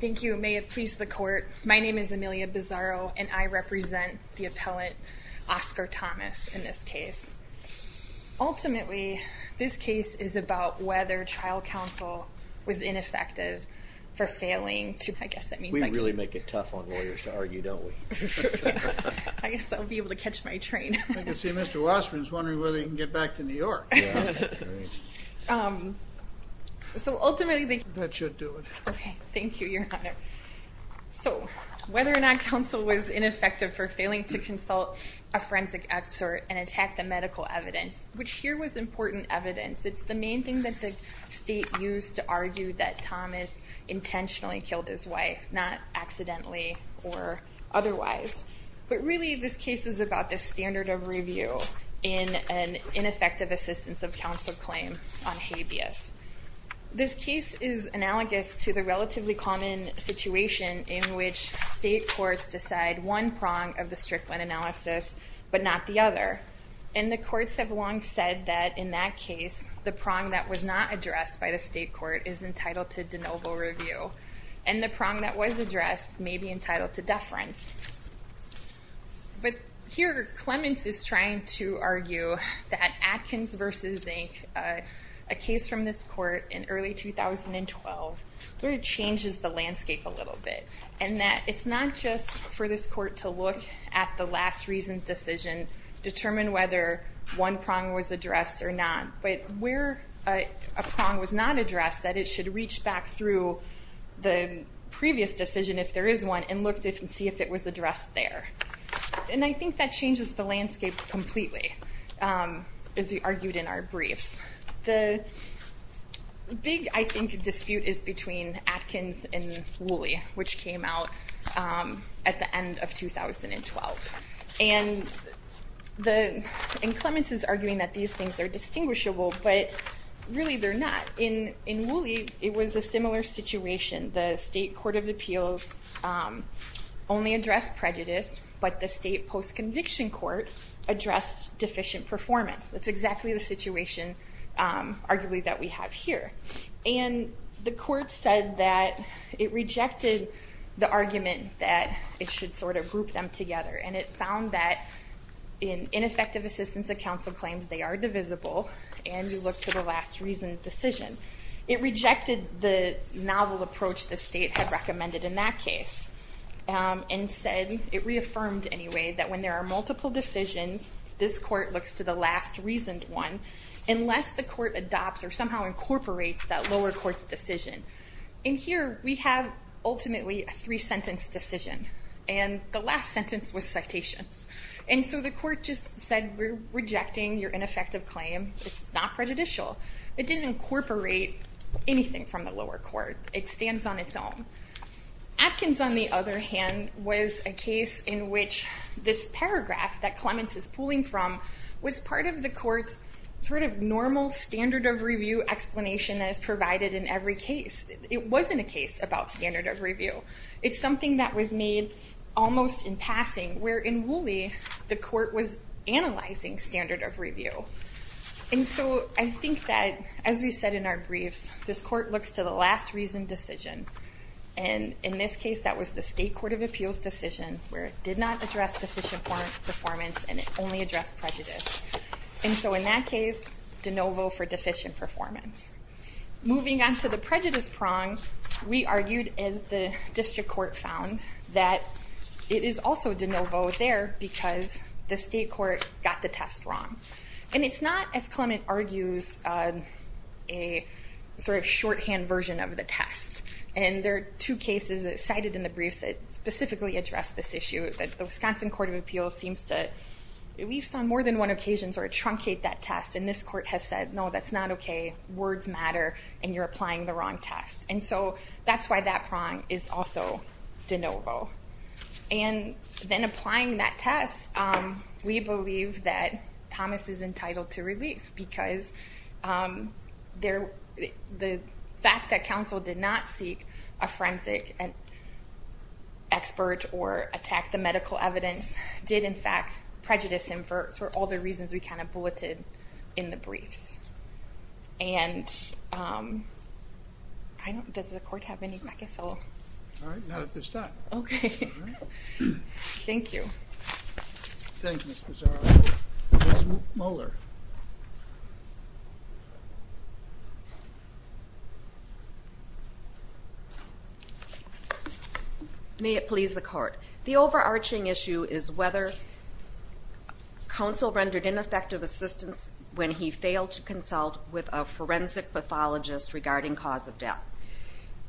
Thank you, may it please the court. My name is Amelia Bizarro and I represent the appellant Oscar Thomas in this case Ultimately this case is about whether trial counsel was ineffective For failing to I guess that means we really make it tough on lawyers to argue. Don't we I Guess I'll be able to catch my train. I can see mr. Wasserman's wondering whether you can get back to New York So Ultimately, that should do it. Okay. Thank you your honor So whether or not counsel was ineffective for failing to consult a forensic expert and attack the medical evidence Which here was important evidence. It's the main thing that the state used to argue that Thomas Intentionally killed his wife not accidentally or otherwise But really this case is about this standard of review in an ineffective assistance of counsel claim on habeas This case is analogous to the relatively common Situation in which state courts decide one prong of the Strickland analysis But not the other and the courts have long said that in that case The prong that was not addressed by the state court is entitled to de novo review and the prong that was addressed May be entitled to deference But here Clemens is trying to argue that Atkins versus zinc a case from this court in early 2012 It changes the landscape a little bit and that it's not just for this court to look at the last reasons decision Determine whether one prong was addressed or not, but where a prong was not addressed that it should reach back through The previous decision if there is one and looked at and see if it was addressed there And I think that changes the landscape completely as we argued in our briefs the Big I think dispute is between Atkins and Woolley which came out at the end of 2012 and The in Clemens is arguing that these things are distinguishable But really they're not in in Woolley. It was a similar situation the state court of Appeals Only addressed prejudice, but the state post-conviction court addressed deficient performance. That's exactly the situation arguably that we have here and the court said that it rejected the argument that it should sort of group them together and it found that Ineffective assistance of counsel claims they are divisible and you look to the last reasoned decision It rejected the novel approach the state had recommended in that case And said it reaffirmed anyway that when there are multiple decisions This court looks to the last reasoned one unless the court adopts or somehow incorporates that lower courts decision in Here we have ultimately a three sentence decision and the last sentence was citations And so the court just said we're rejecting your ineffective claim. It's not prejudicial. It didn't incorporate Anything from the lower court it stands on its own Atkins on the other hand was a case in which this paragraph that Clemens is pulling from was part of the court's Sort of normal standard of review explanation as provided in every case. It wasn't a case about standard of review It's something that was made almost in passing where in Woolley the court was analyzing standard of review and so I think that as we said in our briefs this court looks to the last reasoned decision and In this case, that was the State Court of Appeals decision where it did not address deficient performance performance and it only addressed prejudice And so in that case de novo for deficient performance Moving on to the prejudice prong we argued as the district court found that it is also de novo there because the state court got the test wrong and it's not as Clement argues a Sort of shorthand version of the test and there are two cases that cited in the briefs that specifically address this issue Is that the Wisconsin Court of Appeals seems to at least on more than one occasion sort of truncate that test and this court has said No, that's not. Okay words matter and you're applying the wrong test. And so that's why that prong is also de novo and Then applying that test we believe that Thomas is entitled to relief because there the fact that council did not seek a forensic and Expert or attack the medical evidence did in fact prejudice him for all the reasons we kind of bulleted in the briefs and I don't does the court have any I guess all right. Okay. Thank you May it please the court the overarching issue is whether Council rendered ineffective assistance when he failed to consult with a forensic pathologist regarding cause of death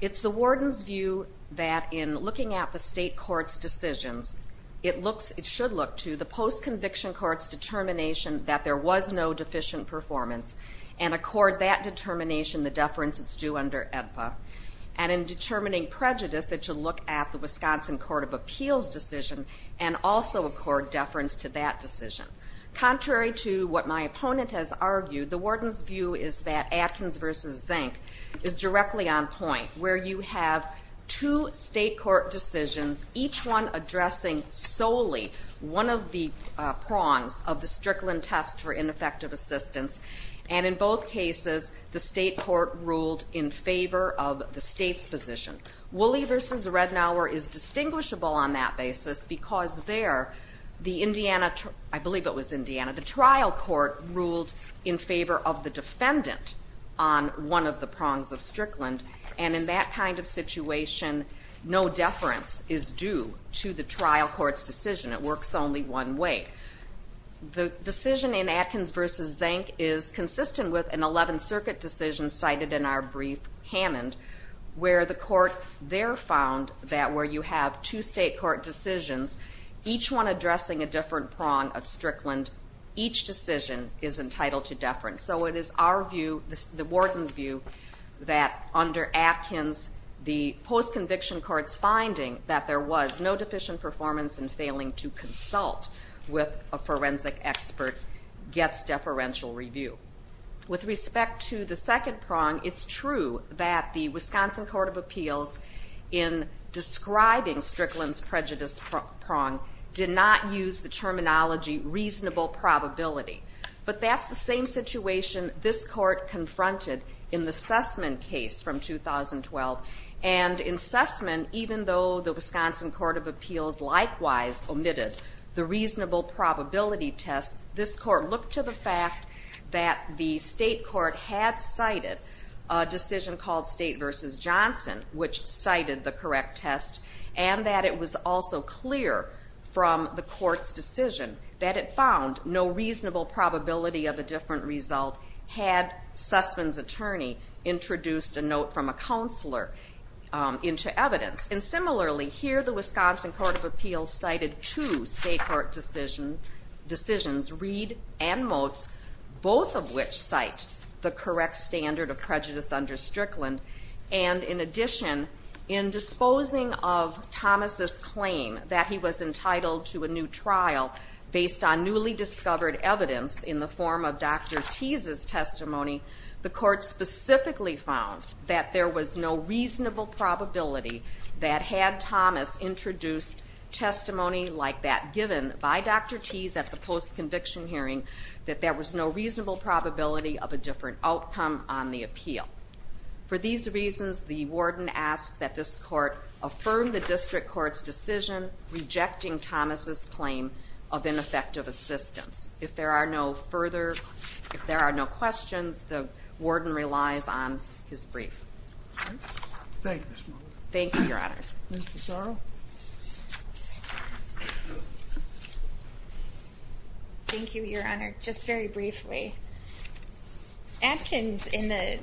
It's the warden's view that in looking at the state courts decisions It looks it should look to the post-conviction courts determination that there was no deficient performance and accord that determination the deference it's due under EDPA and Determining prejudice that you look at the Wisconsin Court of Appeals decision and also accord deference to that decision Contrary to what my opponent has argued the warden's view is that Atkins versus zinc is directly on point where you have two state court decisions each one addressing solely one of the prongs of the Strickland test for ineffective assistance and in both cases the state court ruled in favor of the state's position Wooley versus Rednauer is Distinguishable on that basis because they're the Indiana I believe it was Indiana the trial court ruled in favor of the defendant on One of the prongs of Strickland and in that kind of situation No deference is due to the trial courts decision. It works only one way The decision in Atkins versus zinc is consistent with an 11th Circuit decision cited in our brief Hammond Where the court there found that where you have two state court decisions each one addressing a different prong of Strickland Each decision is entitled to deference So it is our view the warden's view that under Atkins the post-conviction courts Finding that there was no deficient performance and failing to consult with a forensic expert Gets deferential review with respect to the second prong. It's true that the Wisconsin Court of Appeals in Describing Strickland's prejudice prong did not use the terminology reasonable probability but that's the same situation this court confronted in the Sussman case from 2012 and in Sussman even though the Wisconsin Court of Appeals Likewise omitted the reasonable probability test this court looked to the fact that the state court had cited a Decision called state versus Johnson which cited the correct test and that it was also clear From the court's decision that it found no reasonable probability of a different result had Sussman's attorney introduced a note from a counselor Into evidence and similarly here the Wisconsin Court of Appeals cited two state court decision decisions Reed and Motes both of which cite the correct standard of prejudice under Strickland and in addition in disposing of Thomas's claim that he was entitled to a new trial based on newly discovered evidence in the form of Dr. Tease's testimony the court specifically found that there was no reasonable probability That had Thomas introduced Testimony like that given by Dr. Tease at the post conviction hearing that there was no reasonable probability of a different outcome on the appeal For these reasons the warden asked that this court affirm the district courts decision Rejecting Thomas's claim of ineffective assistance if there are no further If there are no questions the warden relies on his brief Thank you your honors Thank you your honor just very briefly Adkins in the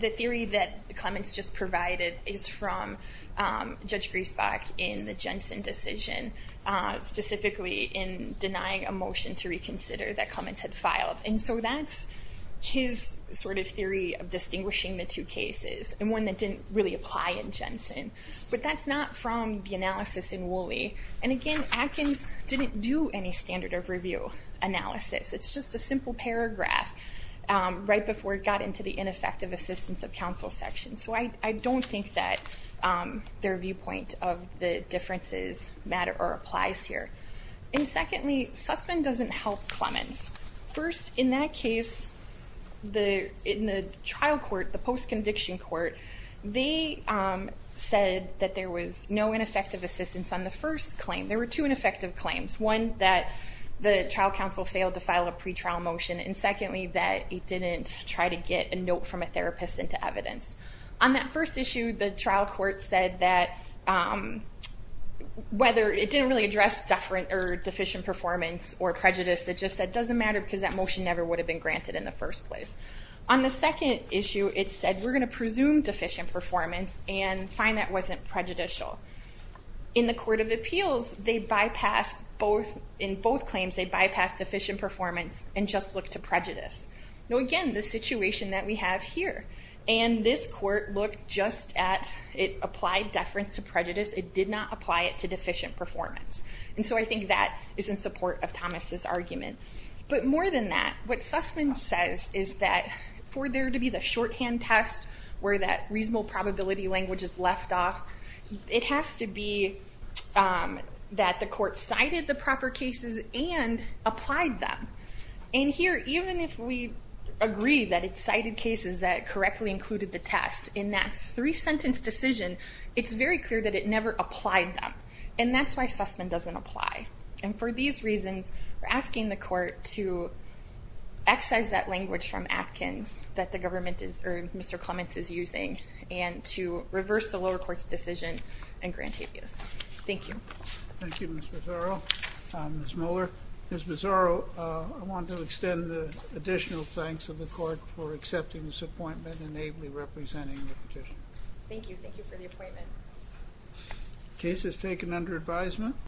the theory that the comments just provided is from Judge Griesbach in the Jensen decision specifically in denying a motion to reconsider that comments had filed and so that's His sort of theory of distinguishing the two cases and one that didn't really apply in Jensen But that's not from the analysis in Woolley and again Adkins didn't do any standard of review Analysis, it's just a simple paragraph Right before it got into the ineffective assistance of counsel section, so I don't think that Their viewpoint of the differences matter or applies here and secondly Sussman doesn't help Clemens first in that case the in the trial court the post conviction court they Said that there was no ineffective assistance on the first claim there were two ineffective claims one that the trial counsel failed to file a pretrial motion and secondly that it didn't try to get a note from a therapist into evidence on that first issue the trial court said that Whether it didn't really address deferent or deficient performance or prejudice that just that doesn't matter because that motion never would have been granted in the first place on the Second issue it said we're gonna presume deficient performance and find that wasn't prejudicial in The Court of Appeals they bypassed both in both claims They bypassed deficient performance and just look to prejudice Now again the situation that we have here and this court looked just at it applied deference to prejudice It did not apply it to deficient performance. And so I think that is in support of Thomas's argument But more than that what Sussman says is that for there to be the shorthand test where that reasonable probability language is left off It has to be that the court cited the proper cases and Applied them and here even if we Agree that it's cited cases that correctly included the test in that three-sentence decision It's very clear that it never applied them and that's why Sussman doesn't apply and for these reasons we're asking the court to Excise that language from Atkins that the government is or mr Clements is using and to reverse the lower courts decision and grant habeas. Thank you Thank you, mr. Zorro Miss Miller is bizarro. I want to extend the additional Thanks of the court for accepting this appointment and ably representing the petition. Thank you. Thank you for the appointment case is taken under advisement